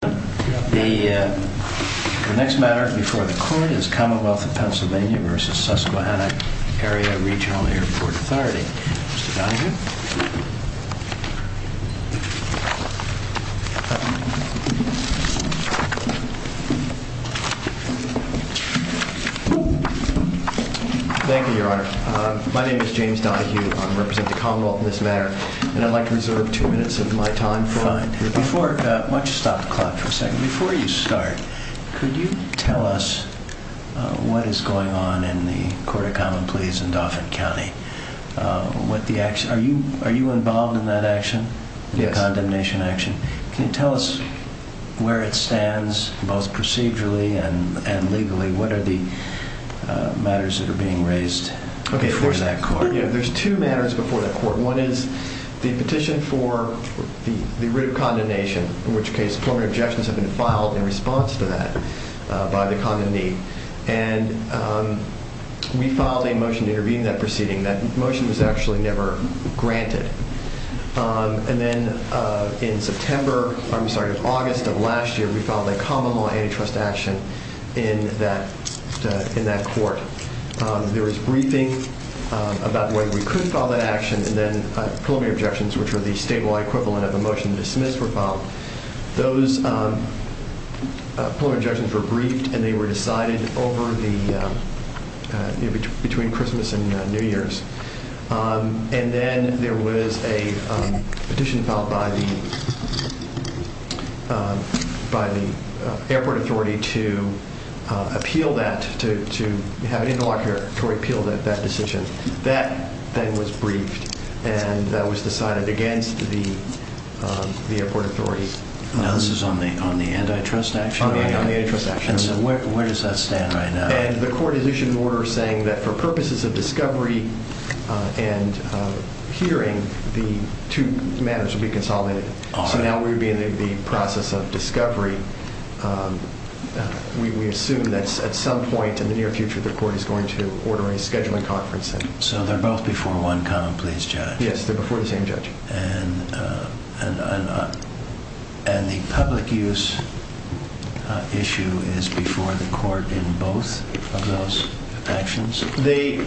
The next matter before the Court is Commonwealth of Pennsylvania v. Susquehanna Area Regional Airport Authority. Mr. Donoghue. Thank you, Your Honor. My name is James Donoghue. I represent the Commonwealth in this matter. And I'd like to reserve two minutes of my time for... Before... Why don't you stop the clock for a second. Before you start, could you tell us what is going on in the Court of Common Pleas in Dauphin County? What the action... Are you involved in that action? Yes. The condemnation action. Can you tell us where it stands both procedurally and legally? What are the matters that are being raised before that Court? There's two matters before that Court. One is the petition for the writ of condemnation, in which case preliminary objections have been filed in response to that by the condemnee. And we filed a motion to intervene in that proceeding. That motion was actually never granted. And then in September... I'm sorry, in August of last year, when we could file that action and then preliminary objections, which are the statewide equivalent of the motion dismissed, were filed. Those preliminary objections were briefed and they were decided over the... Between Christmas and New Year's. And then there was a petition filed by the Airport Authority to appeal that, to have an interlocutor to appeal that decision. That then was briefed and that was decided against the Airport Authority. Now this is on the antitrust action? On the antitrust action. And so where does that stand right now? And the Court has issued an order saying that for purposes of discovery and hearing, the two matters will be consolidated. So now we would be in the process of discovery. We assume that at some point in the near future, the Court is going to order a scheduling conference. So they're both before one common pleas judge? Yes, they're before the same judge. And the public use issue is before the Court in both of those actions? The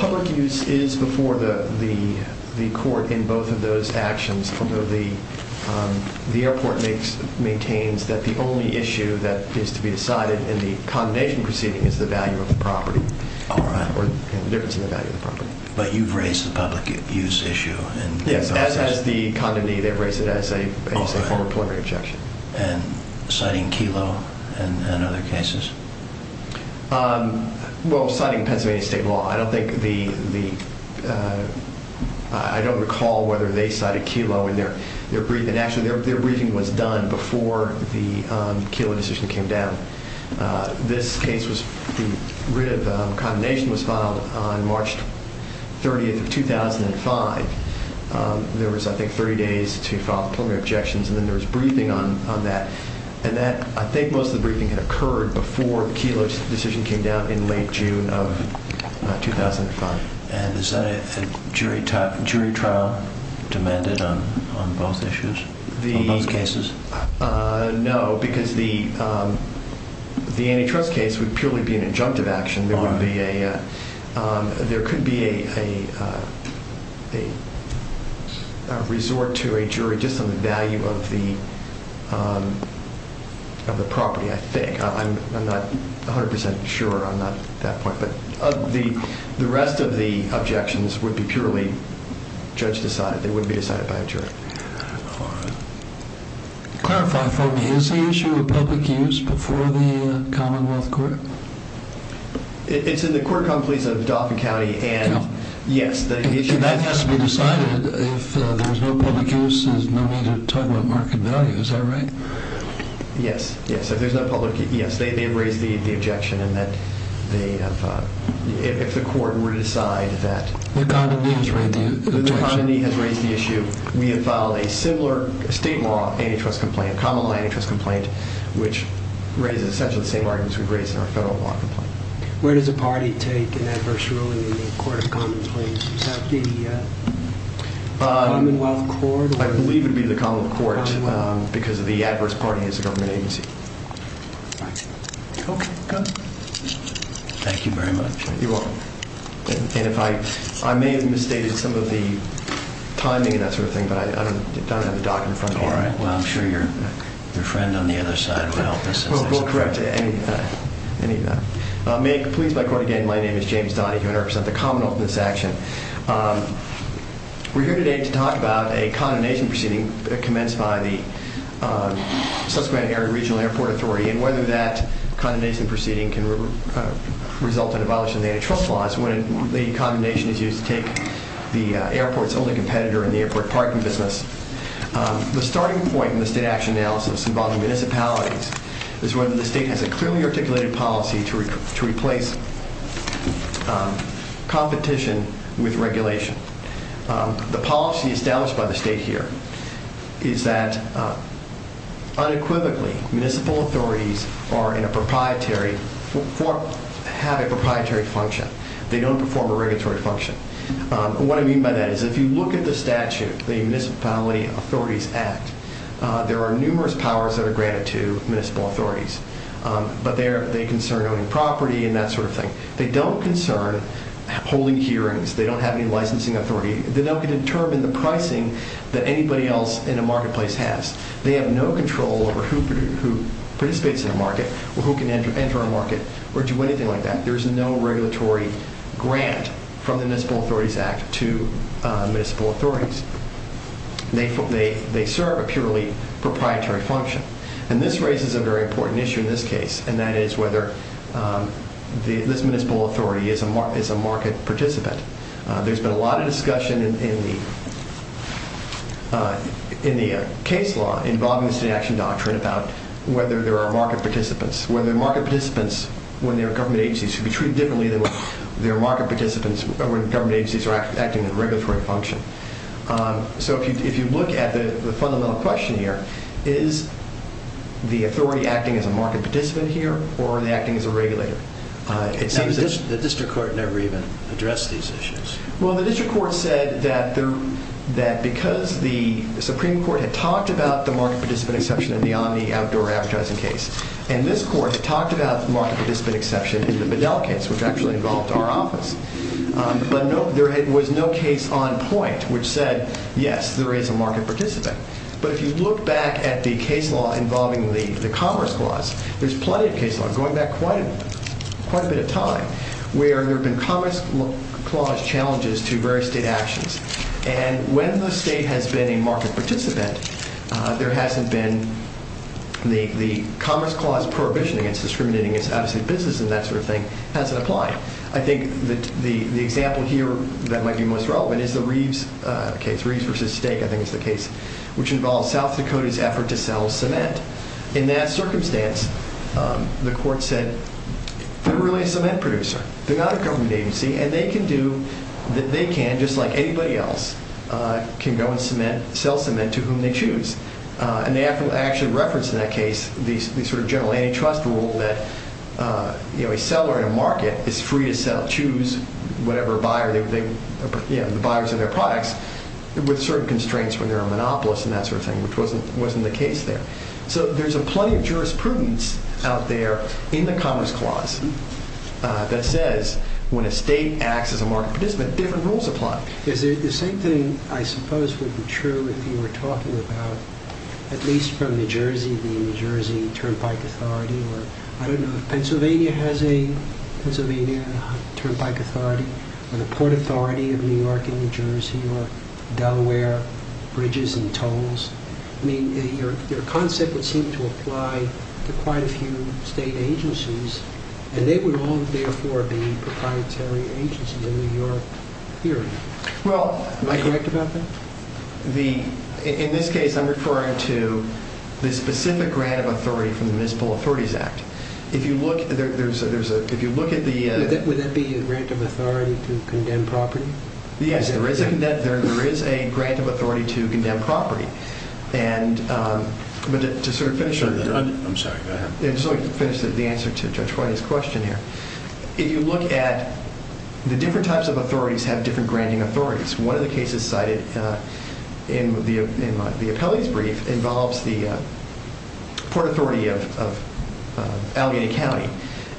public use is before the Court in both of those actions, although the airport maintains that the only issue that needs to be decided in the condemnation proceeding is the value of the property. All right. Or the difference in the value of the property. But you've raised the public use issue? Yes, as has the condamnee. They've raised it as a form of preliminary objection. And citing Kelo and other cases? Well, citing Pennsylvania state law. I don't recall whether they cited Kelo in their briefing. Actually, their briefing was done before the Kelo decision came down. This case, the writ of condemnation was filed on March 30, 2005. There was, I think, 30 days to file preliminary objections. And then there was briefing on that. And I think most of the briefing had occurred before Kelo's decision came down in late June of 2005. And is that a jury trial demanded on both issues, on both cases? No, because the antitrust case would purely be an injunctive action. There could be a resort to a jury just on the value of the property, I think. I'm not 100% sure. I'm not at that point. But the rest of the objections would be purely judge decided. They wouldn't be decided by a jury. Clarify for me. Is the issue of public use before the Commonwealth Court? It's in the court completes of Dauphin County. No. Yes. If that has to be decided, if there's no public use, there's no need to talk about market value. Is that right? Yes, yes. If there's no public use, yes. They have raised the objection in that they have—if the court were to decide that— The condominium has raised the objection. The condominium has raised the issue. We have filed a similar state law antitrust complaint, a Commonwealth antitrust complaint, which raises essentially the same arguments we've raised in our federal law complaint. Where does a party take an adverse ruling in the Court of Common Plaintiffs? Is that the Commonwealth Court? I believe it would be the Commonwealth Court because the adverse party is the government agency. Okay, good. Thank you very much. You're welcome. I may have misstated some of the timing and that sort of thing, but I don't have the doc in front of me. All right. Well, I'm sure your friend on the other side will help us. We'll correct any— May it please my court again, my name is James Donahue. I represent the Commonwealth in this action. We're here today to talk about a condemnation proceeding commenced by the Subsequent Area Regional Airport Authority and whether that condemnation proceeding can result in a violation of the antitrust laws when the condemnation is used to take the airport's only competitor in the airport parking business. The starting point in the state action analysis involving municipalities is whether the state has a clearly articulated policy to replace competition with regulation. The policy established by the state here is that unequivocally, municipal authorities have a proprietary function. They don't perform a regulatory function. What I mean by that is if you look at the statute, the Municipality Authorities Act, there are numerous powers that are granted to municipal authorities, but they concern owning property and that sort of thing. They don't concern holding hearings. They don't have any licensing authority. They don't determine the pricing that anybody else in a marketplace has. They have no control over who participates in a market or who can enter a market or do anything like that. There is no regulatory grant from the Municipal Authorities Act to municipal authorities. They serve a purely proprietary function. And this raises a very important issue in this case, and that is whether this municipal authority is a market participant. There's been a lot of discussion in the case law involving the state action doctrine about whether there are market participants. Whether market participants, when they're government agencies, should be treated differently than when they're market participants, or when government agencies are acting in a regulatory function. So if you look at the fundamental question here, is the authority acting as a market participant here, or are they acting as a regulator? The district court never even addressed these issues. Well, the district court said that because the Supreme Court had talked about the market participant exception in the Omni outdoor advertising case, and this court talked about the market participant exception in the Bedell case, which actually involved our office, but there was no case on point which said, yes, there is a market participant. But if you look back at the case law involving the Commerce Clause, there's plenty of case law, going back quite a bit of time, where there have been Commerce Clause challenges to various state actions. And when the state has been a market participant, there hasn't been the Commerce Clause prohibition against discriminating against out-of-state business and that sort of thing hasn't applied. I think the example here that might be most relevant is the Reeves case, Reeves v. State, I think is the case, which involves South Dakota's effort to sell cement. In that circumstance, the court said, they're really a cement producer. They're not a government agency, and they can do what they can, just like anybody else can go and sell cement to whom they choose. And they actually referenced in that case the sort of general antitrust rule that a seller in a market is free to choose the buyers of their products with certain constraints when they're a monopolist and that sort of thing, which wasn't the case there. So there's plenty of jurisprudence out there in the Commerce Clause that says when a state acts as a market participant, different rules apply. The same thing, I suppose, would be true if you were talking about, at least from New Jersey, the New Jersey Turnpike Authority. I don't know if Pennsylvania has a Pennsylvania Turnpike Authority, or the Port Authority of New York and New Jersey, or Delaware Bridges and Tolls. I mean, your concept would seem to apply to quite a few state agencies, and they would all, therefore, be proprietary agencies in New York theory. Am I correct about that? In this case, I'm referring to the specific grant of authority from the Municipal Authorities Act. Would that be a grant of authority to condemn property? Yes, there is a grant of authority to condemn property. I'm sorry, go ahead. I just want to finish the answer to Judge Whitey's question here. If you look at the different types of authorities have different granting authorities. One of the cases cited in the appellee's brief involves the Port Authority of Allegheny County.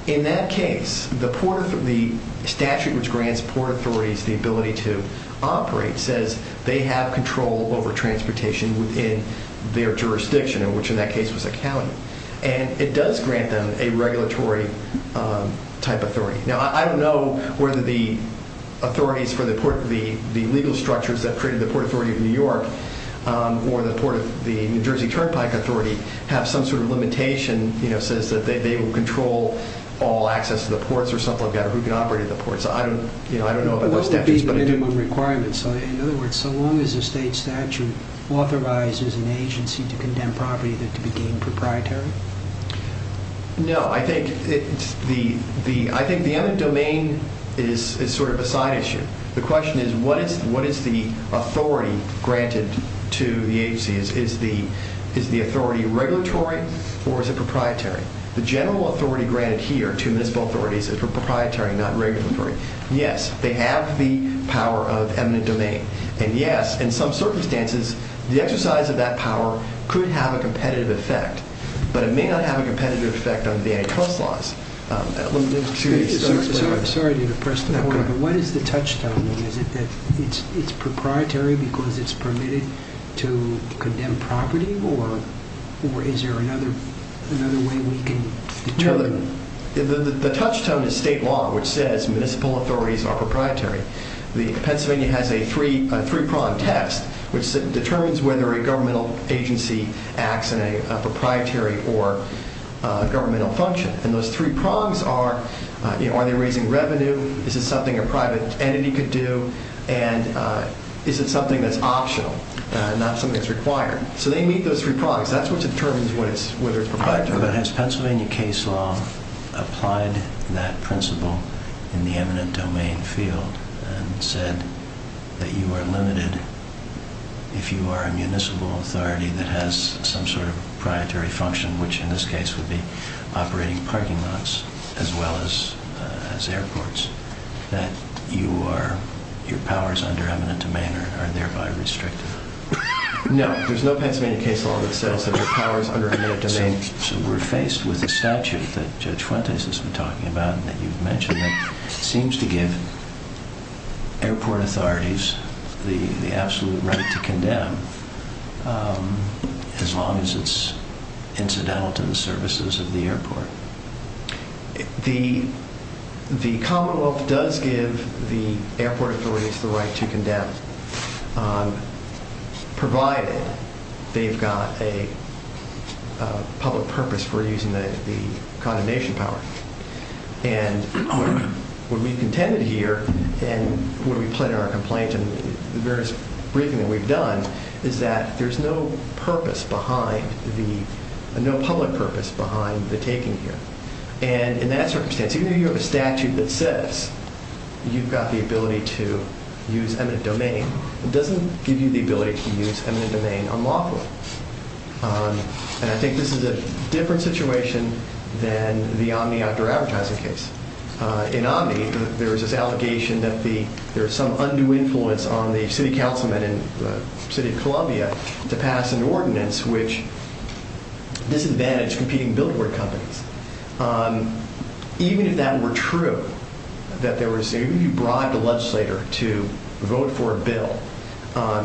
In that case, the statute which grants Port Authorities the ability to operate says they have control over transportation within their jurisdiction, which in that case was a county. It does grant them a regulatory type authority. Now, I don't know whether the authorities for the legal structures that created the Port Authority of New York or the New Jersey Turnpike Authority have some sort of limitation that says they will control all access to the ports or something like that, or who can operate the ports. I don't know about those statutes. What would be the minimum requirements? In other words, so long as a state statute authorizes an agency to condemn property, they're to be deemed proprietary? No. I think the eminent domain is sort of a side issue. The question is what is the authority granted to the agency? Is the authority regulatory or is it proprietary? The general authority granted here to municipal authorities is proprietary, not regulatory. Yes, they have the power of eminent domain. And yes, in some circumstances, the exercise of that power could have a competitive effect. But it may not have a competitive effect on the antitrust laws. Excuse me. Sorry to depress the point, but what is the touchstone? Is it that it's proprietary because it's permitted to condemn property, or is there another way we can determine? The touchstone is state law, which says municipal authorities are proprietary. Pennsylvania has a three-prong test, which determines whether a governmental agency acts in a proprietary or governmental function. And those three prongs are, are they raising revenue? Is it something a private entity could do? And is it something that's optional, not something that's required? So they meet those three prongs. That's what determines whether it's proprietary. But has Pennsylvania case law applied that principle in the eminent domain field and said that you are limited if you are a municipal authority that has some sort of proprietary function, which in this case would be operating parking lots as well as airports, that your powers under eminent domain are thereby restricted? No, there's no Pennsylvania case law that says that your powers under eminent domain... So we're faced with a statute that Judge Fuentes has been talking about and that you've mentioned that seems to give airport authorities the absolute right to condemn as long as it's incidental to the services of the airport. The Commonwealth does give the airport authorities the right to condemn, provided they've got a public purpose for using the condemnation power. And what we've contended here and what we've played in our complaint and the various briefing that we've done is that there's no purpose behind the, no public purpose behind the taking here. And in that circumstance, even though you have a statute that says you've got the ability to use eminent domain, it doesn't give you the ability to use eminent domain on lawful. And I think this is a different situation than the Omni outdoor advertising case. In Omni, there was this allegation that there was some undue influence on the city councilmen in the city of Columbia to pass an ordinance which disadvantaged competing billboard companies. Even if that were true, that there was, even if you bribed a legislator to vote for a bill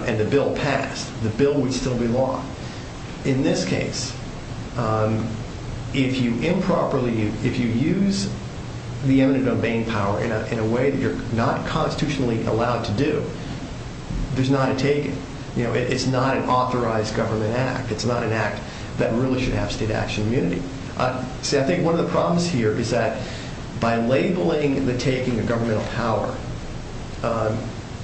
and the bill passed, the bill would still be law. In this case, if you improperly, if you use the eminent domain power in a way that you're not constitutionally allowed to do, there's not a taking. It's not an authorized government act. It's not an act that really should have state action immunity. See, I think one of the problems here is that by labeling the taking a governmental power,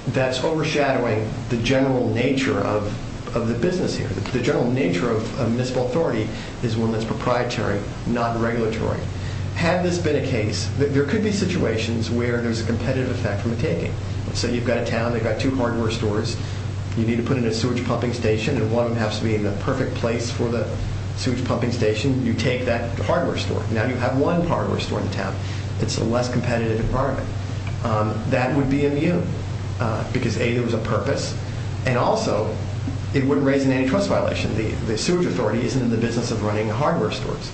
that's overshadowing the general nature of the business here. The general nature of municipal authority is one that's proprietary, not regulatory. Had this been a case, there could be situations where there's a competitive effect from a taking. So you've got a town, they've got two hardware stores. You need to put in a sewage pumping station, and one of them has to be in the perfect place for the sewage pumping station. You take that hardware store. Now you have one hardware store in town. It's a less competitive department. That would be immune because, A, there was a purpose, and also it wouldn't raise an antitrust violation. The sewage authority isn't in the business of running hardware stores.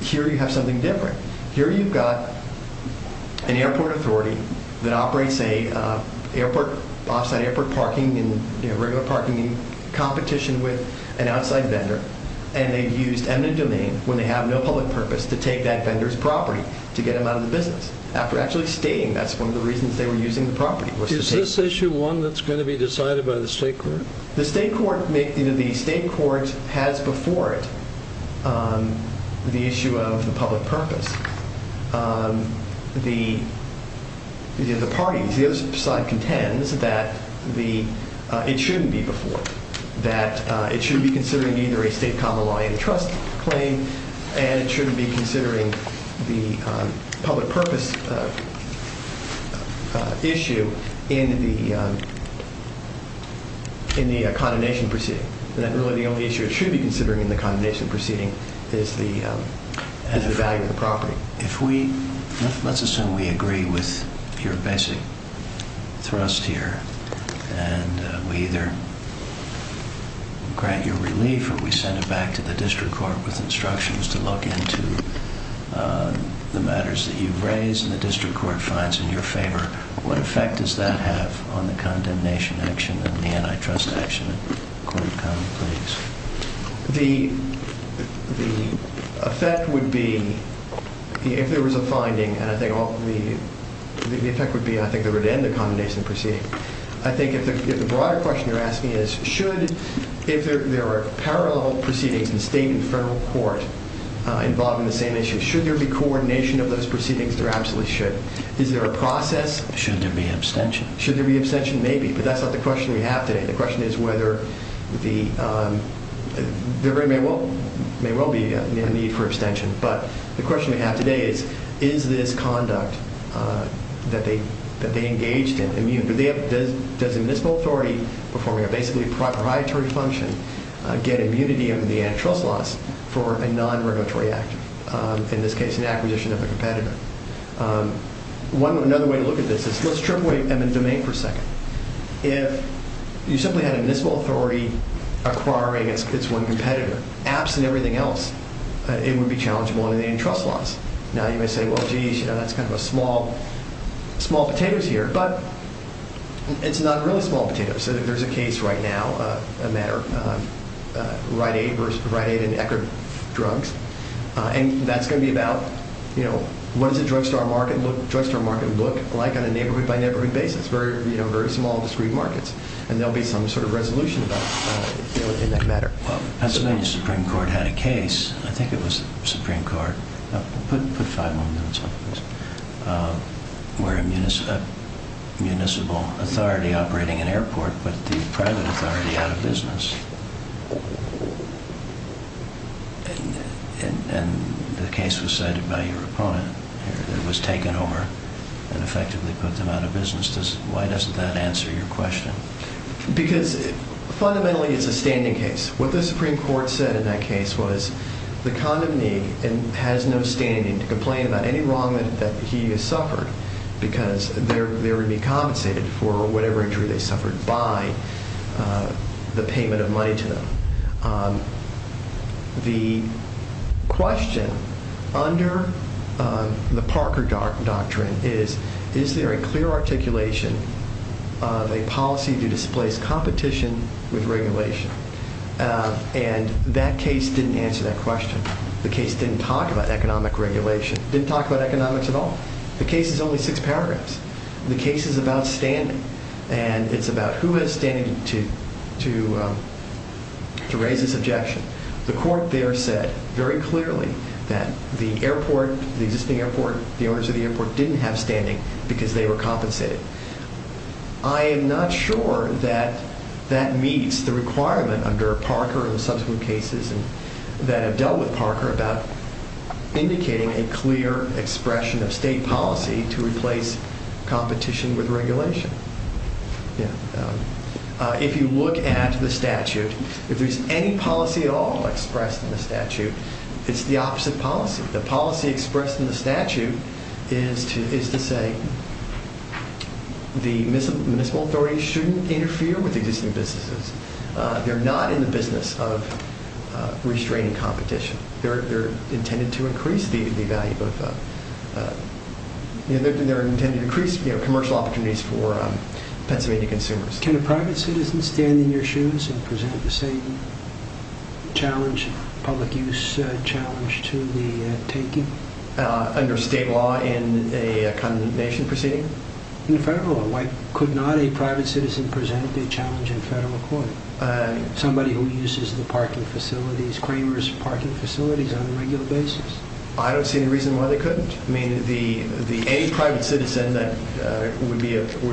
Here you have something different. Here you've got an airport authority that operates an off-site airport parking, regular parking, in competition with an outside vendor, and they've used eminent domain when they have no public purpose to take that vendor's property to get them out of the business. After actually staying, that's one of the reasons they were using the property was to take it. Is this issue one that's going to be decided by the state court? The state court has before it the issue of the public purpose. The parties, the other side contends that it shouldn't be before, that it shouldn't be considering either a state common law antitrust claim, and it shouldn't be considering the public purpose issue in the condemnation proceeding, that really the only issue it should be considering in the condemnation proceeding is the value of the property. Let's assume we agree with your basic thrust here, and we either grant your relief or we send it back to the district court with instructions to look into the matters that you've raised, and the district court finds in your favor. What effect does that have on the condemnation action and the antitrust action? The effect would be, if there was a finding, and I think the effect would be that it would end the condemnation proceeding. I think if the broader question you're asking is, if there are parallel proceedings in state and federal court involving the same issue, should there be coordination of those proceedings? There absolutely should. Is there a process? Should there be abstention? Should there be abstention? Maybe, but that's not the question we have today. The question is whether there may well be a need for abstention, but the question we have today is, is this conduct that they engaged in immune? Does the municipal authority performing a basically proprietary function get immunity under the antitrust laws for a non-regulatory act, in this case an acquisition of a competitor? Another way to look at this is, let's trip away at the domain for a second. If you simply had a municipal authority acquiring its one competitor, absent everything else, it would be challengeable under the antitrust laws. Now, you may say, well, geez, that's kind of small potatoes here, but it's not really small potatoes. There's a case right now, a matter of Rite Aid and Eckerd drugs, and that's going to be about what does a drugstore market look like on a neighborhood-by-neighborhood basis, very small, discrete markets, and there will be some sort of resolution in that matter. Pennsylvania Supreme Court had a case, I think it was the Supreme Court, put five more minutes on this, where a municipal authority operating an airport put the private authority out of business. The case was cited by your opponent. It was taken over and effectively put them out of business. Why doesn't that answer your question? Because fundamentally it's a standing case. What the Supreme Court said in that case was the condominee has no standing to complain about any wrong that he has suffered because they would be compensated for whatever injury they suffered by the payment of money to them. The question under the Parker Doctrine is, is there a clear articulation of a policy to displace competition with regulation? And that case didn't answer that question. The case didn't talk about economic regulation. It didn't talk about economics at all. The case is only six paragraphs. The case is about standing, and it's about who has standing to raise this objection. The court there said very clearly that the airport, the existing airport, the owners of the airport didn't have standing because they were compensated. I am not sure that that meets the requirement under Parker and subsequent cases that have dealt with Parker about indicating a clear expression of state policy to replace competition with regulation. If you look at the statute, if there's any policy at all expressed in the statute, it's the opposite policy. The policy expressed in the statute is to say the municipal authorities shouldn't interfere with existing businesses. They're not in the business of restraining competition. They're intended to increase the value of, they're intended to increase commercial opportunities for Pennsylvania consumers. Can a private citizen stand in your shoes and present the same challenge, public use challenge to the taking? Under state law in a condemnation proceeding? In federal law. Why could not a private citizen present a challenge in federal court? Somebody who uses the parking facilities, Cramer's parking facilities on a regular basis? I don't see any reason why they couldn't. I mean, any private citizen that would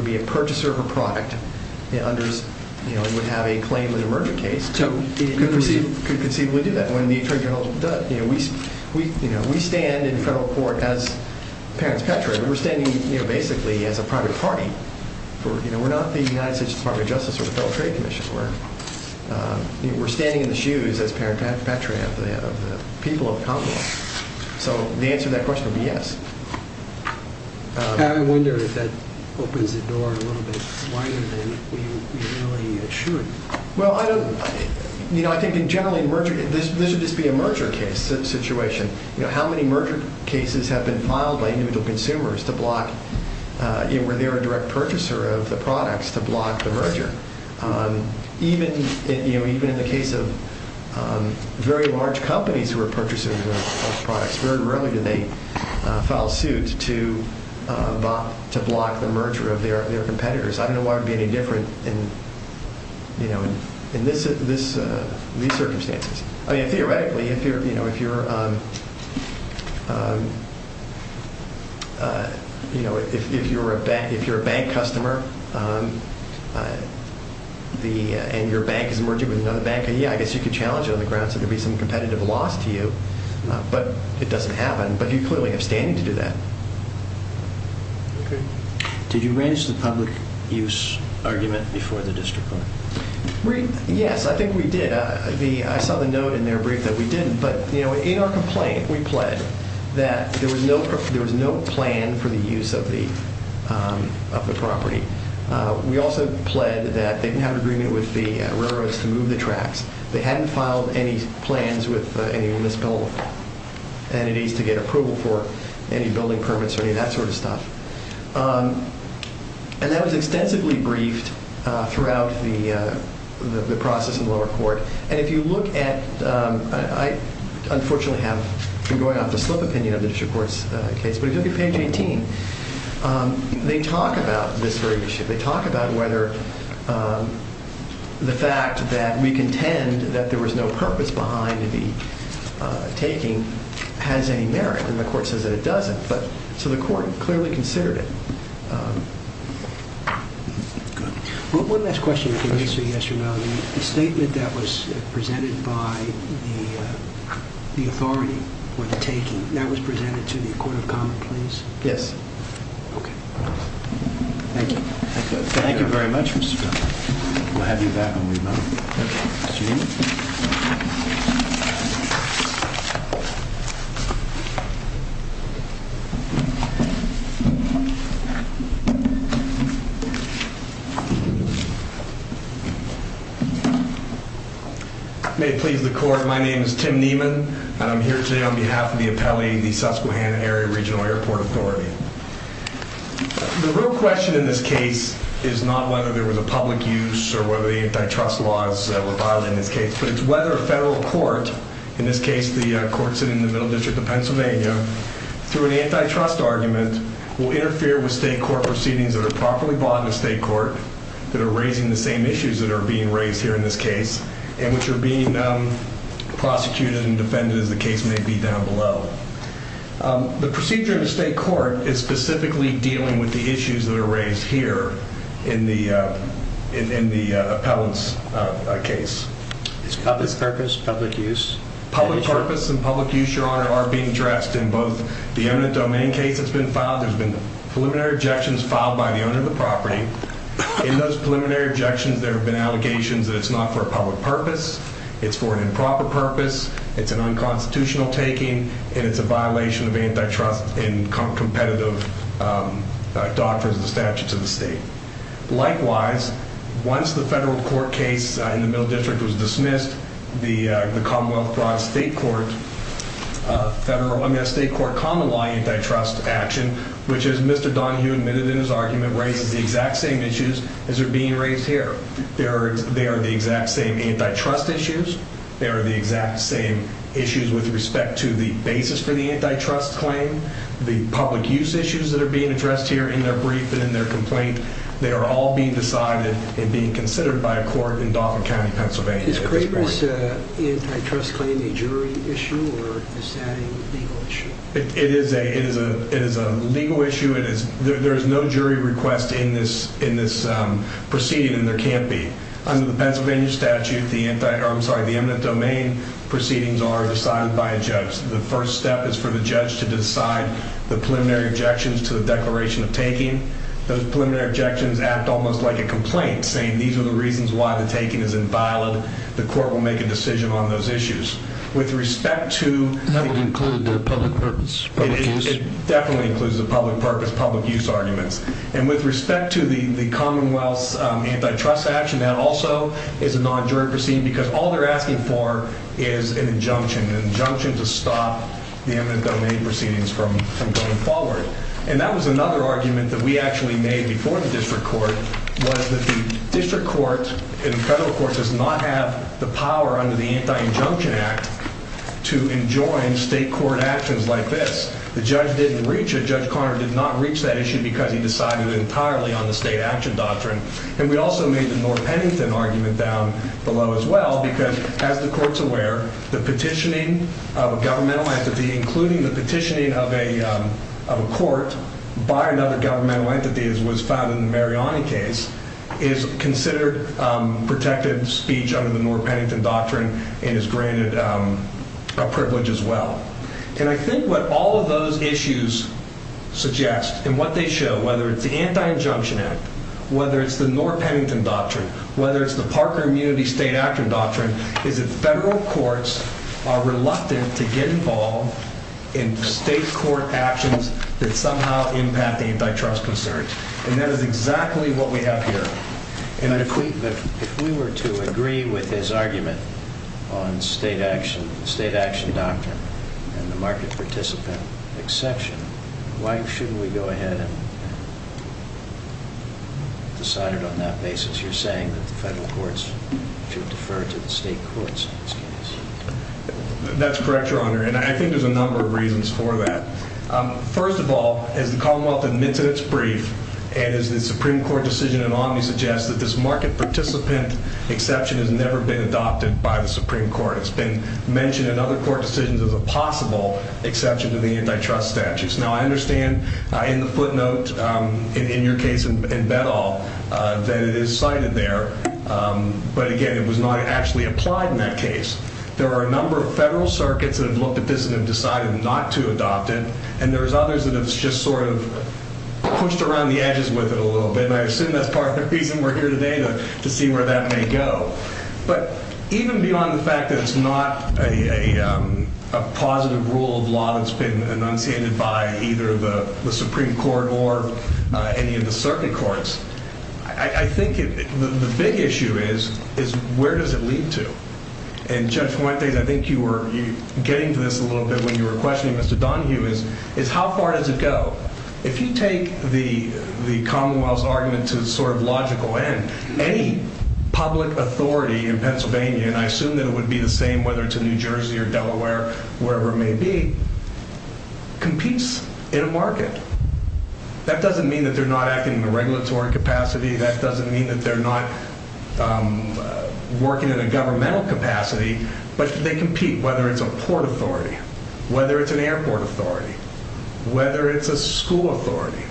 be a purchaser of a product and would have a claim in an emergent case could conceivably do that when the attorney general does. We stand in federal court as parents of pet traders. We're standing basically as a private party. We're not the United States Department of Justice or the Federal Trade Commission. We're standing in the shoes as parent and pet trader of the people of the Commonwealth. So the answer to that question would be yes. I wonder if that opens the door a little bit wider than we really should. Well, I don't, you know, I think in generally emergent, this would just be a merger case situation. How many merger cases have been filed by individual consumers to block, where they're a direct purchaser of the products to block the merger? Even in the case of very large companies who are purchasers of products, very rarely do they file suits to block the merger of their competitors. I don't know why it would be any different in these circumstances. I mean, theoretically, if you're a bank customer and your bank is merging with another bank, yeah, I guess you could challenge it on the ground so there'd be some competitive loss to you. But it doesn't happen. But you clearly have standing to do that. Okay. Did you raise the public use argument before the district court? Yes, I think we did. I saw the note in their brief that we didn't. But, you know, in our complaint, we pled that there was no plan for the use of the property. We also pled that they didn't have an agreement with the railroads to move the tracks. They hadn't filed any plans with any municipal entities to get approval for any building permits or any of that sort of stuff. And that was extensively briefed throughout the process in the lower court. And if you look at, I unfortunately have been going off the slip opinion of the district court's case, but if you look at page 18, they talk about this very issue. They talk about whether the fact that we contend that there was no purpose behind the taking has any merit. And the court says that it doesn't. So the court clearly considered it. One last question if you can answer yes or no. The statement that was presented by the authority for the taking, that was presented to the Court of Common Pleas? Yes. Okay. Thank you. Thank you very much, Mr. Feldman. We'll have you back when we vote. Okay. Thank you. May it please the court. My name is Tim Nieman, and I'm here today on behalf of the appellee, the Susquehanna Area Regional Airport Authority. The real question in this case is not whether there was a public use or whether the antitrust laws were violated in this case, but it's whether a federal court, in this case the court sitting in the Middle District of Pennsylvania, through an antitrust argument will interfere with state court proceedings that are properly bought in a state court that are raising the same issues that are being raised here in this case and which are being prosecuted and defended as the case may be down below. The procedure in the state court is specifically dealing with the issues that are raised here in the appellant's case. Is public purpose, public use? Public purpose and public use, Your Honor, are being addressed in both the eminent domain case that's been filed. There's been preliminary objections filed by the owner of the property. In those preliminary objections, there have been allegations that it's not for a public purpose, it's for an improper purpose, it's an unconstitutional taking, and it's a violation of antitrust and competitive doctrines and statutes of the state. Likewise, once the federal court case in the Middle District was dismissed, the Commonwealth Broad State Court federal, I mean, a state court common law antitrust action, which, as Mr. Donohue admitted in his argument, raises the exact same issues as are being raised here. They are the exact same antitrust issues. They are the exact same issues with respect to the basis for the antitrust claim, the public use issues that are being addressed here in their brief and in their complaint. They are all being decided and being considered by a court in Dauphin County, Pennsylvania. Is Craitor's antitrust claim a jury issue, or is that a legal issue? It is a legal issue. There is no jury request in this proceeding, and there can't be. Under the Pennsylvania statute, the eminent domain proceedings are decided by a judge. The first step is for the judge to decide the preliminary objections to the declaration of taking. Those preliminary objections act almost like a complaint, saying these are the reasons why the taking is inviolate. The court will make a decision on those issues. That would include the public purpose, public use? It definitely includes the public purpose, public use arguments. And with respect to the Commonwealth's antitrust action, that also is a non-jury proceeding because all they're asking for is an injunction, an injunction to stop the eminent domain proceedings from going forward. And that was another argument that we actually made before the district court, was that the district court and federal court does not have the power under the Anti-Injunction Act to enjoin state court actions like this. The judge didn't reach it. Judge Conner did not reach that issue because he decided entirely on the state action doctrine. And we also made the Nord-Pennington argument down below as well because, as the court's aware, the petitioning of a governmental entity, including the petitioning of a court by another governmental entity, as was found in the Mariani case, is considered protected speech under the Nord-Pennington doctrine and is granted a privilege as well. And I think what all of those issues suggest and what they show, whether it's the Anti-Injunction Act, whether it's the Nord-Pennington doctrine, whether it's the Parker Immunity State Action Doctrine, is that federal courts are reluctant to get involved in state court actions that somehow impact antitrust concerns. And that is exactly what we have here. And if we were to agree with his argument on state action, state action doctrine, and the market participant exception, why shouldn't we go ahead and decide it on that basis? You're saying that the federal courts should defer to the state courts in this case. That's correct, Your Honor, and I think there's a number of reasons for that. First of all, as the Commonwealth admits in its brief, and as the Supreme Court decision in Omni suggests, that this market participant exception has never been adopted by the Supreme Court. It's been mentioned in other court decisions as a possible exception to the antitrust statutes. Now, I understand in the footnote in your case in Bedall that it is cited there, but, again, it was not actually applied in that case. There are a number of federal circuits that have looked at this and have decided not to adopt it, and there's others that have just sort of pushed around the edges with it a little bit, and I assume that's part of the reason we're here today to see where that may go. But even beyond the fact that it's not a positive rule of law that's been enunciated by either the Supreme Court or any of the circuit courts, I think the big issue is where does it lead to? And, Judge Fuentes, I think you were getting to this a little bit when you were questioning Mr. Donohue, is how far does it go? If you take the Commonwealth's argument to the sort of logical end, any public authority in Pennsylvania, and I assume that it would be the same whether it's in New Jersey or Delaware or wherever it may be, competes in a market. That doesn't mean that they're not acting in a regulatory capacity. That doesn't mean that they're not working in a governmental capacity, but they compete whether it's a port authority, whether it's an airport authority, whether it's a school authority,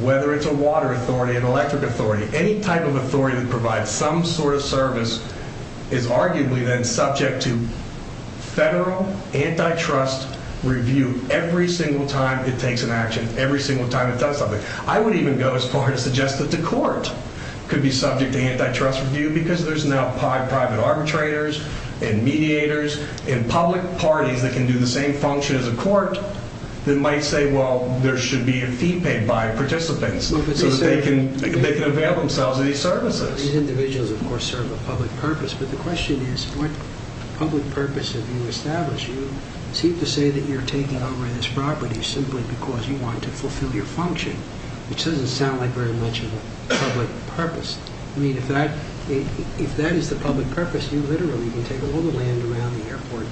whether it's a water authority, an electric authority. Any type of authority that provides some sort of service is arguably then subject to federal antitrust review every single time it takes an action, every single time it does something. I would even go as far to suggest that the court could be subject to antitrust review because there's now private arbitrators and mediators and public parties that can do the same function as a court that might say, well, there should be a fee paid by participants so that they can avail themselves of these services. These individuals, of course, serve a public purpose. But the question is, what public purpose have you established? You seem to say that you're taking over this property simply because you want to fulfill your function, which doesn't sound like very much of a public purpose. I mean, if that is the public purpose, you literally can take all the land around the airport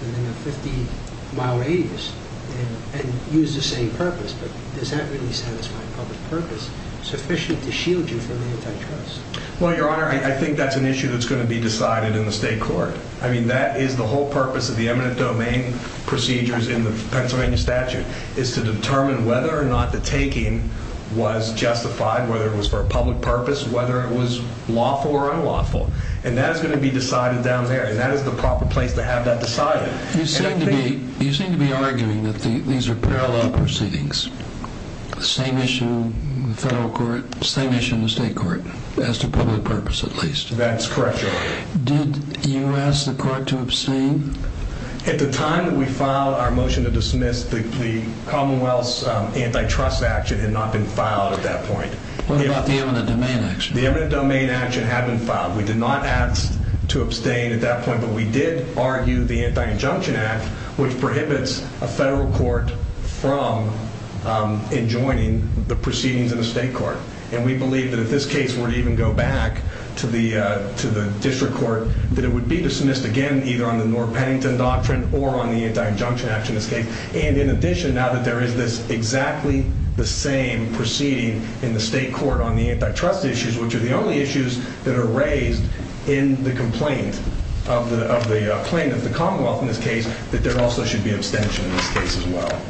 within a 50-mile radius and use the same purpose. But is that really satisfying public purpose, sufficient to shield you from antitrust? Well, Your Honor, I think that's an issue that's going to be decided in the state court. I mean, that is the whole purpose of the eminent domain procedures in the Pennsylvania statute is to determine whether or not the taking was justified, whether it was for a public purpose, whether it was lawful or unlawful. And that is going to be decided down there, and that is the proper place to have that decided. You seem to be arguing that these are parallel proceedings, the same issue in the federal court, the same issue in the state court, as to public purpose at least. That's correct, Your Honor. Did you ask the court to abstain? At the time that we filed our motion to dismiss, the Commonwealth's antitrust action had not been filed at that point. What about the eminent domain action? The eminent domain action had been filed. We did not ask to abstain at that point, but we did argue the Anti-Injunction Act, which prohibits a federal court from enjoining the proceedings in a state court. And we believe that if this case were to even go back to the district court, that it would be dismissed again either on the North Pennington Doctrine or on the Anti-Injunction Act in this case. And in addition, now that there is this exactly the same proceeding in the state court on the antitrust issues, which are the only issues that are raised in the complaint of the plaintiff, the Commonwealth in this case, that there also should be abstention in this case as well.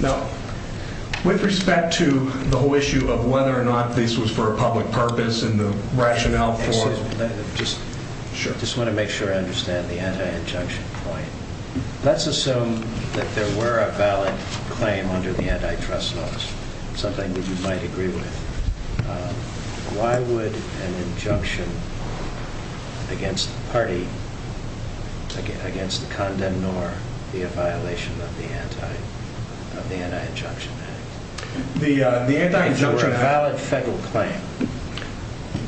Now, with respect to the whole issue of whether or not this was for a public purpose and the rationale for it. Excuse me. Sure. I just want to make sure I understand the anti-injunction point. Let's assume that there were a valid claim under the antitrust laws. Something that you might agree with. Why would an injunction against the party, against the condemn nor, be a violation of the Anti-Injunction Act? The Anti-Injunction Act. If it were a valid federal claim.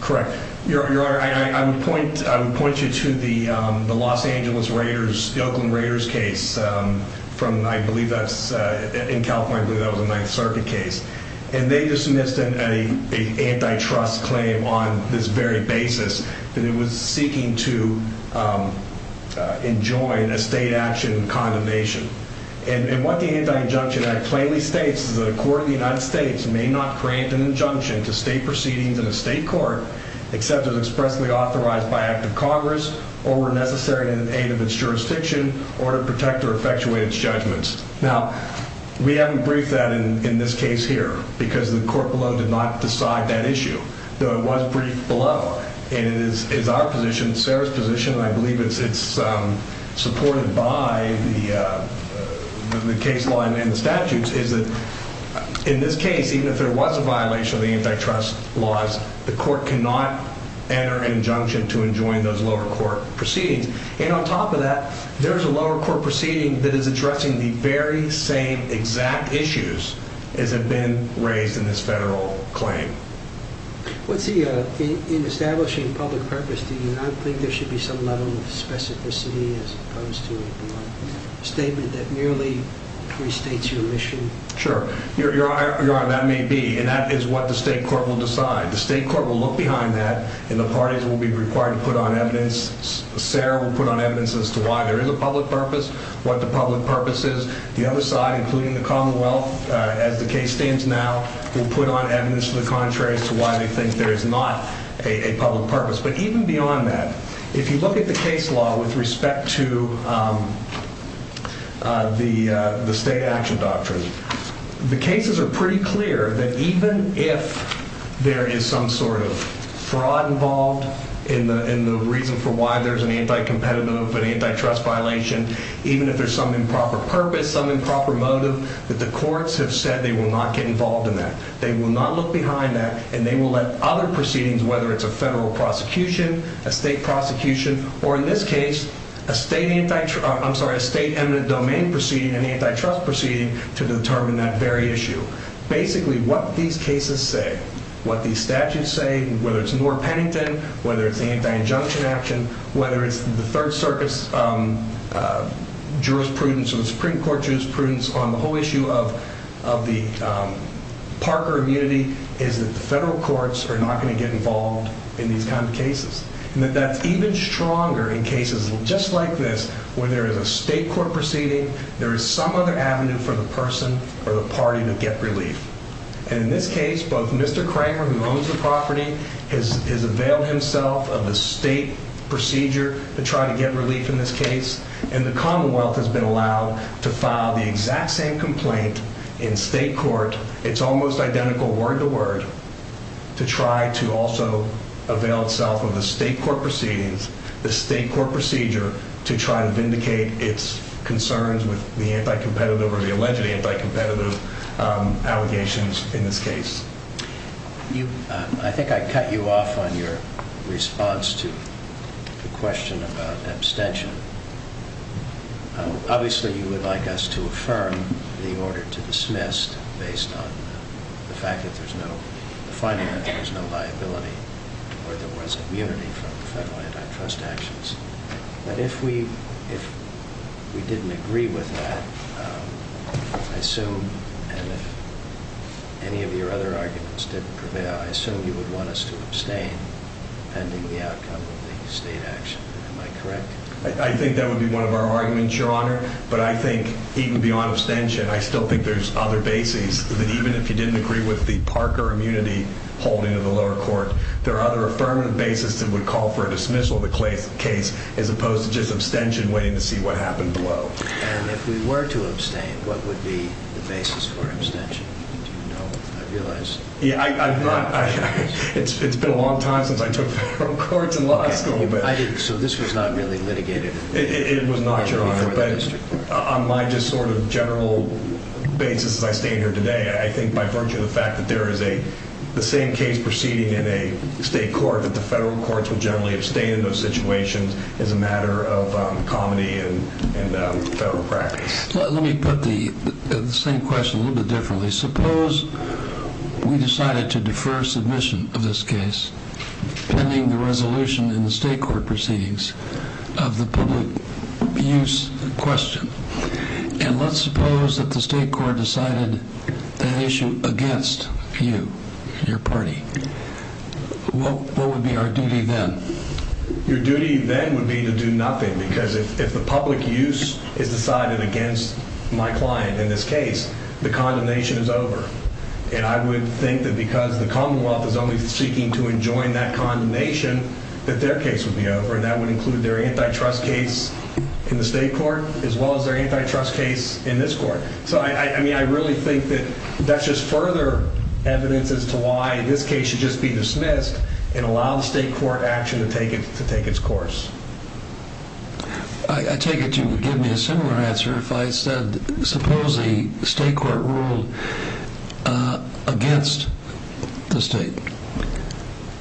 Correct. Your Honor, I would point you to the Los Angeles Raiders, the Oakland Raiders case from I believe that's in California. I believe that was a Ninth Circuit case. And they dismissed an antitrust claim on this very basis that it was seeking to enjoin a state action condemnation. And what the Anti-Injunction Act plainly states is that a court in the United States may not grant an injunction to state proceedings in a state court. Except it was expressly authorized by act of Congress or were necessary in aid of its jurisdiction or to protect or effectuate its judgments. Now, we haven't briefed that in this case here because the court below did not decide that issue. Though it was briefed below. And it is our position, Sarah's position, and I believe it's supported by the case law and the statutes. In this case, even if there was a violation of the antitrust laws, the court cannot enter an injunction to enjoin those lower court proceedings. And on top of that, there is a lower court proceeding that is addressing the very same exact issues as have been raised in this federal claim. In establishing public purpose, do you not think there should be some level of specificity as opposed to a statement that merely restates your mission? Sure, Your Honor, that may be. And that is what the state court will decide. The state court will look behind that and the parties will be required to put on evidence. Sarah will put on evidence as to why there is a public purpose, what the public purpose is. The other side, including the Commonwealth, as the case stands now, will put on evidence to the contrary as to why they think there is not a public purpose. But even beyond that, if you look at the case law with respect to the state action doctrine, the cases are pretty clear that even if there is some sort of fraud involved in the reason for why there's an anti-competitive, an antitrust violation, even if there's some improper purpose, some improper motive, that the courts have said they will not get involved in that. They will not look behind that and they will let other proceedings, whether it's a federal prosecution, a state prosecution, or in this case, a state eminent domain proceeding, an antitrust proceeding, to determine that very issue. Basically, what these cases say, what these statutes say, whether it's Noor-Pennington, whether it's anti-injunction action, whether it's the Third Circus jurisprudence or the Supreme Court jurisprudence on the whole issue of the Parker immunity, is that the federal courts are not going to get involved in these kinds of cases. And that's even stronger in cases just like this, where there is a state court proceeding, there is some other avenue for the person or the party to get relief. And in this case, both Mr. Kramer, who owns the property, has availed himself of the state procedure to try to get relief in this case, and the Commonwealth has been allowed to file the exact same complaint in state court. But it's almost identical word-to-word to try to also avail itself of the state court proceedings, the state court procedure, to try to vindicate its concerns with the anti-competitive or the alleged anti-competitive allegations in this case. I think I cut you off on your response to the question about abstention. Obviously, you would like us to affirm the order to dismiss based on the fact that there's no finding that there's no liability or there was immunity from federal antitrust actions. But if we didn't agree with that, I assume, and if any of your other arguments didn't prevail, I assume you would want us to abstain pending the outcome of the state action. Am I correct? I think that would be one of our arguments, Your Honor. But I think even beyond abstention, I still think there's other bases, that even if you didn't agree with the Parker immunity holding of the lower court, there are other affirmative bases that would call for a dismissal of the case, as opposed to just abstention, waiting to see what happened below. And if we were to abstain, what would be the basis for abstention? Do you know? I realize... Yeah, I've not... It's been a long time since I took federal courts in law school. So this was not really litigated? It was not, Your Honor. But on my just sort of general basis as I stand here today, I think by virtue of the fact that there is the same case proceeding in a state court, that the federal courts will generally abstain in those situations as a matter of comity and federal practice. Let me put the same question a little bit differently. Suppose we decided to defer submission of this case, pending the resolution in the state court proceedings of the public use question. And let's suppose that the state court decided that issue against you and your party. What would be our duty then? Your duty then would be to do nothing, because if the public use is decided against my client in this case, the condemnation is over. And I would think that because the Commonwealth is only seeking to enjoin that condemnation, that their case would be over, and that would include their antitrust case in the state court, as well as their antitrust case in this court. So, I mean, I really think that that's just further evidence as to why this case should just be dismissed and allow the state court action to take its course. I take it you would give me a similar answer if I said, suppose the state court ruled against the state,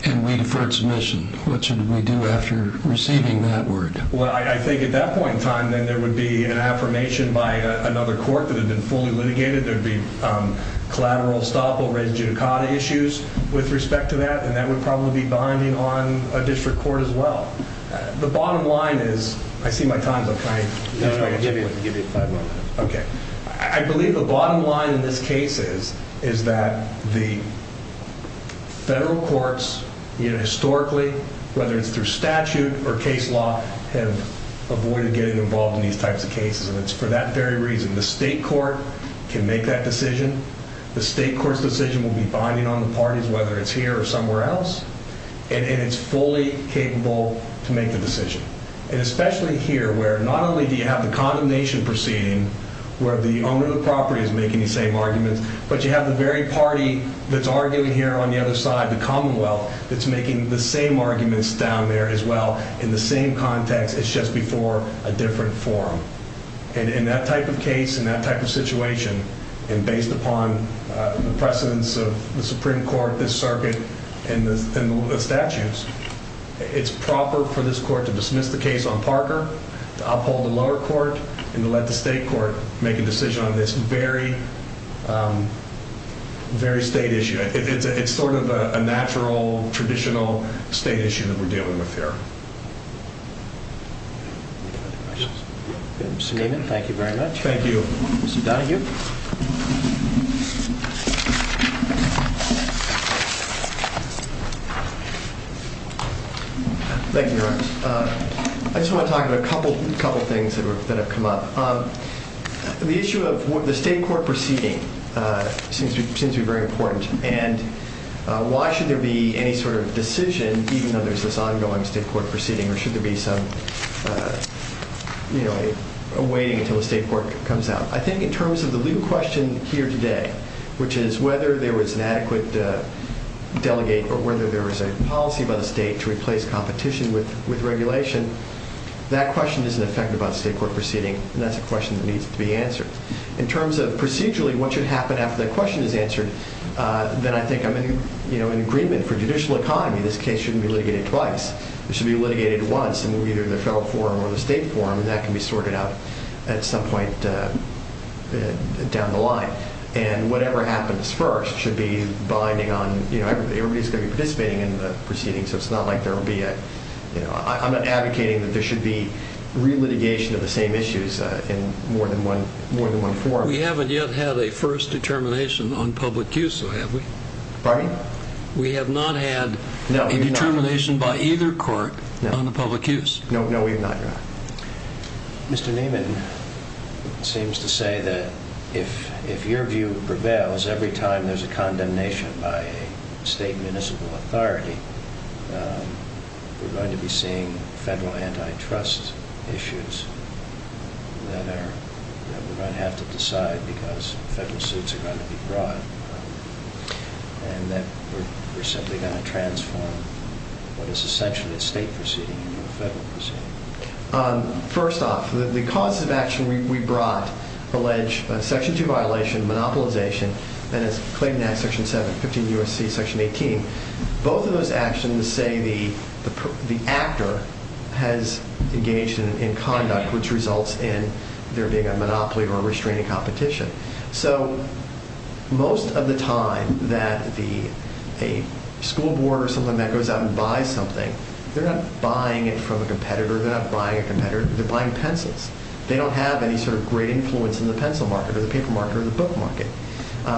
and we deferred submission. What should we do after receiving that word? Well, I think at that point in time, then there would be an affirmation by another court that had been fully litigated. There would be collateral stopover and judicata issues with respect to that, and that would probably be binding on a district court as well. The bottom line is, I see my time's up. Give me five more minutes. Okay. I believe the bottom line in this case is that the federal courts, historically, whether it's through statute or case law, have avoided getting involved in these types of cases, and it's for that very reason. The state court can make that decision. The state court's decision will be binding on the parties, whether it's here or somewhere else, and it's fully capable to make the decision. And especially here where not only do you have the condemnation proceeding where the owner of the property is making the same arguments, but you have the very party that's arguing here on the other side, the commonwealth, that's making the same arguments down there as well in the same context. It's just before a different forum. And in that type of case and that type of situation, and based upon the precedence of the Supreme Court, this circuit, and the statutes, it's proper for this court to dismiss the case on Parker, to uphold the lower court, and to let the state court make a decision on this very state issue. It's sort of a natural, traditional state issue that we're dealing with here. Any other questions? Mr. Niemann, thank you very much. Thank you. Mr. Donahue. Thank you, Your Honor. I just want to talk about a couple things that have come up. The issue of the state court proceeding seems to be very important, and why should there be any sort of decision, even though there's this ongoing state court proceeding, or should there be some waiting until the state court comes out? I think in terms of the legal question here today, which is whether there was an adequate delegate or whether there was a policy by the state to replace competition with regulation, that question isn't affected by the state court proceeding, and that's a question that needs to be answered. In terms of procedurally what should happen after that question is answered, then I think I'm in agreement for judicial economy. This case shouldn't be litigated twice. It should be litigated once in either the federal forum or the state forum, and that can be sorted out at some point down the line. Whatever happens first should be binding on everybody participating in the proceeding, so it's not like there will be a... I'm not advocating that there should be relitigation of the same issues in more than one forum. We haven't yet had a first determination on public use, though, have we? Pardon? We have not had a determination by either court on the public use. No, we have not, Your Honor. Mr. Neiman seems to say that if your view prevails every time there's a condemnation by a state municipal authority, we're going to be seeing federal antitrust issues that we're going to have to decide because federal suits are going to be brought, and that we're simply going to transform what is essentially a state proceeding into a federal proceeding. First off, the causes of action we brought allege Section 2 violation, monopolization, and as claimed in Act Section 7, 15 U.S.C. Section 18, both of those actions say the actor has engaged in conduct which results in there being a monopoly or a restraining competition. So most of the time that a school board or something like that goes out and buys something, they're not buying it from a competitor. They're not buying a competitor. They're buying pencils. They don't have any sort of great influence in the pencil market or the paper market or the book market.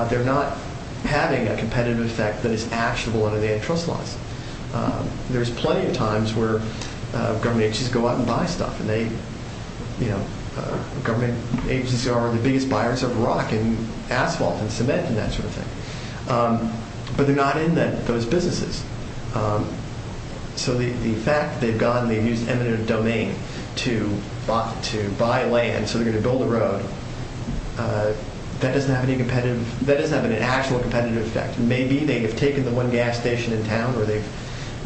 They're not having a competitive effect that is actionable under the antitrust laws. There's plenty of times where government agencies go out and buy stuff, and government agencies are the biggest buyers of rock and asphalt and cement and that sort of thing, but they're not in those businesses. So the fact they've used eminent domain to buy land so they're going to build a road, that doesn't have an actual competitive effect. Maybe they have taken the one gas station in town or they've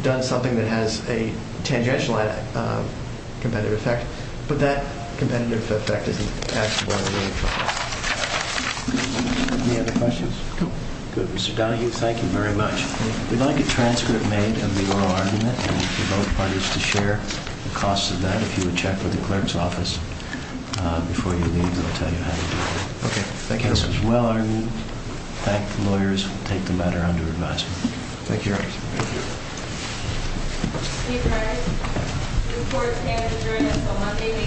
done something that has a tangential competitive effect, but that competitive effect isn't actionable under the antitrust law. Any other questions? No. Good. Mr. Donahue, thank you very much. We'd like a transcript made of the oral argument and for both parties to share the cost of that. If you would check with the clerk's office before you leave, they'll tell you how to do it. Okay. Thank you. It was well-argued. Thank the lawyers. We'll take the matter under advisement. Thank you very much. Thank you. Steve Harris. Report is here to adjourn until Monday, May 7th, at 10 a.m.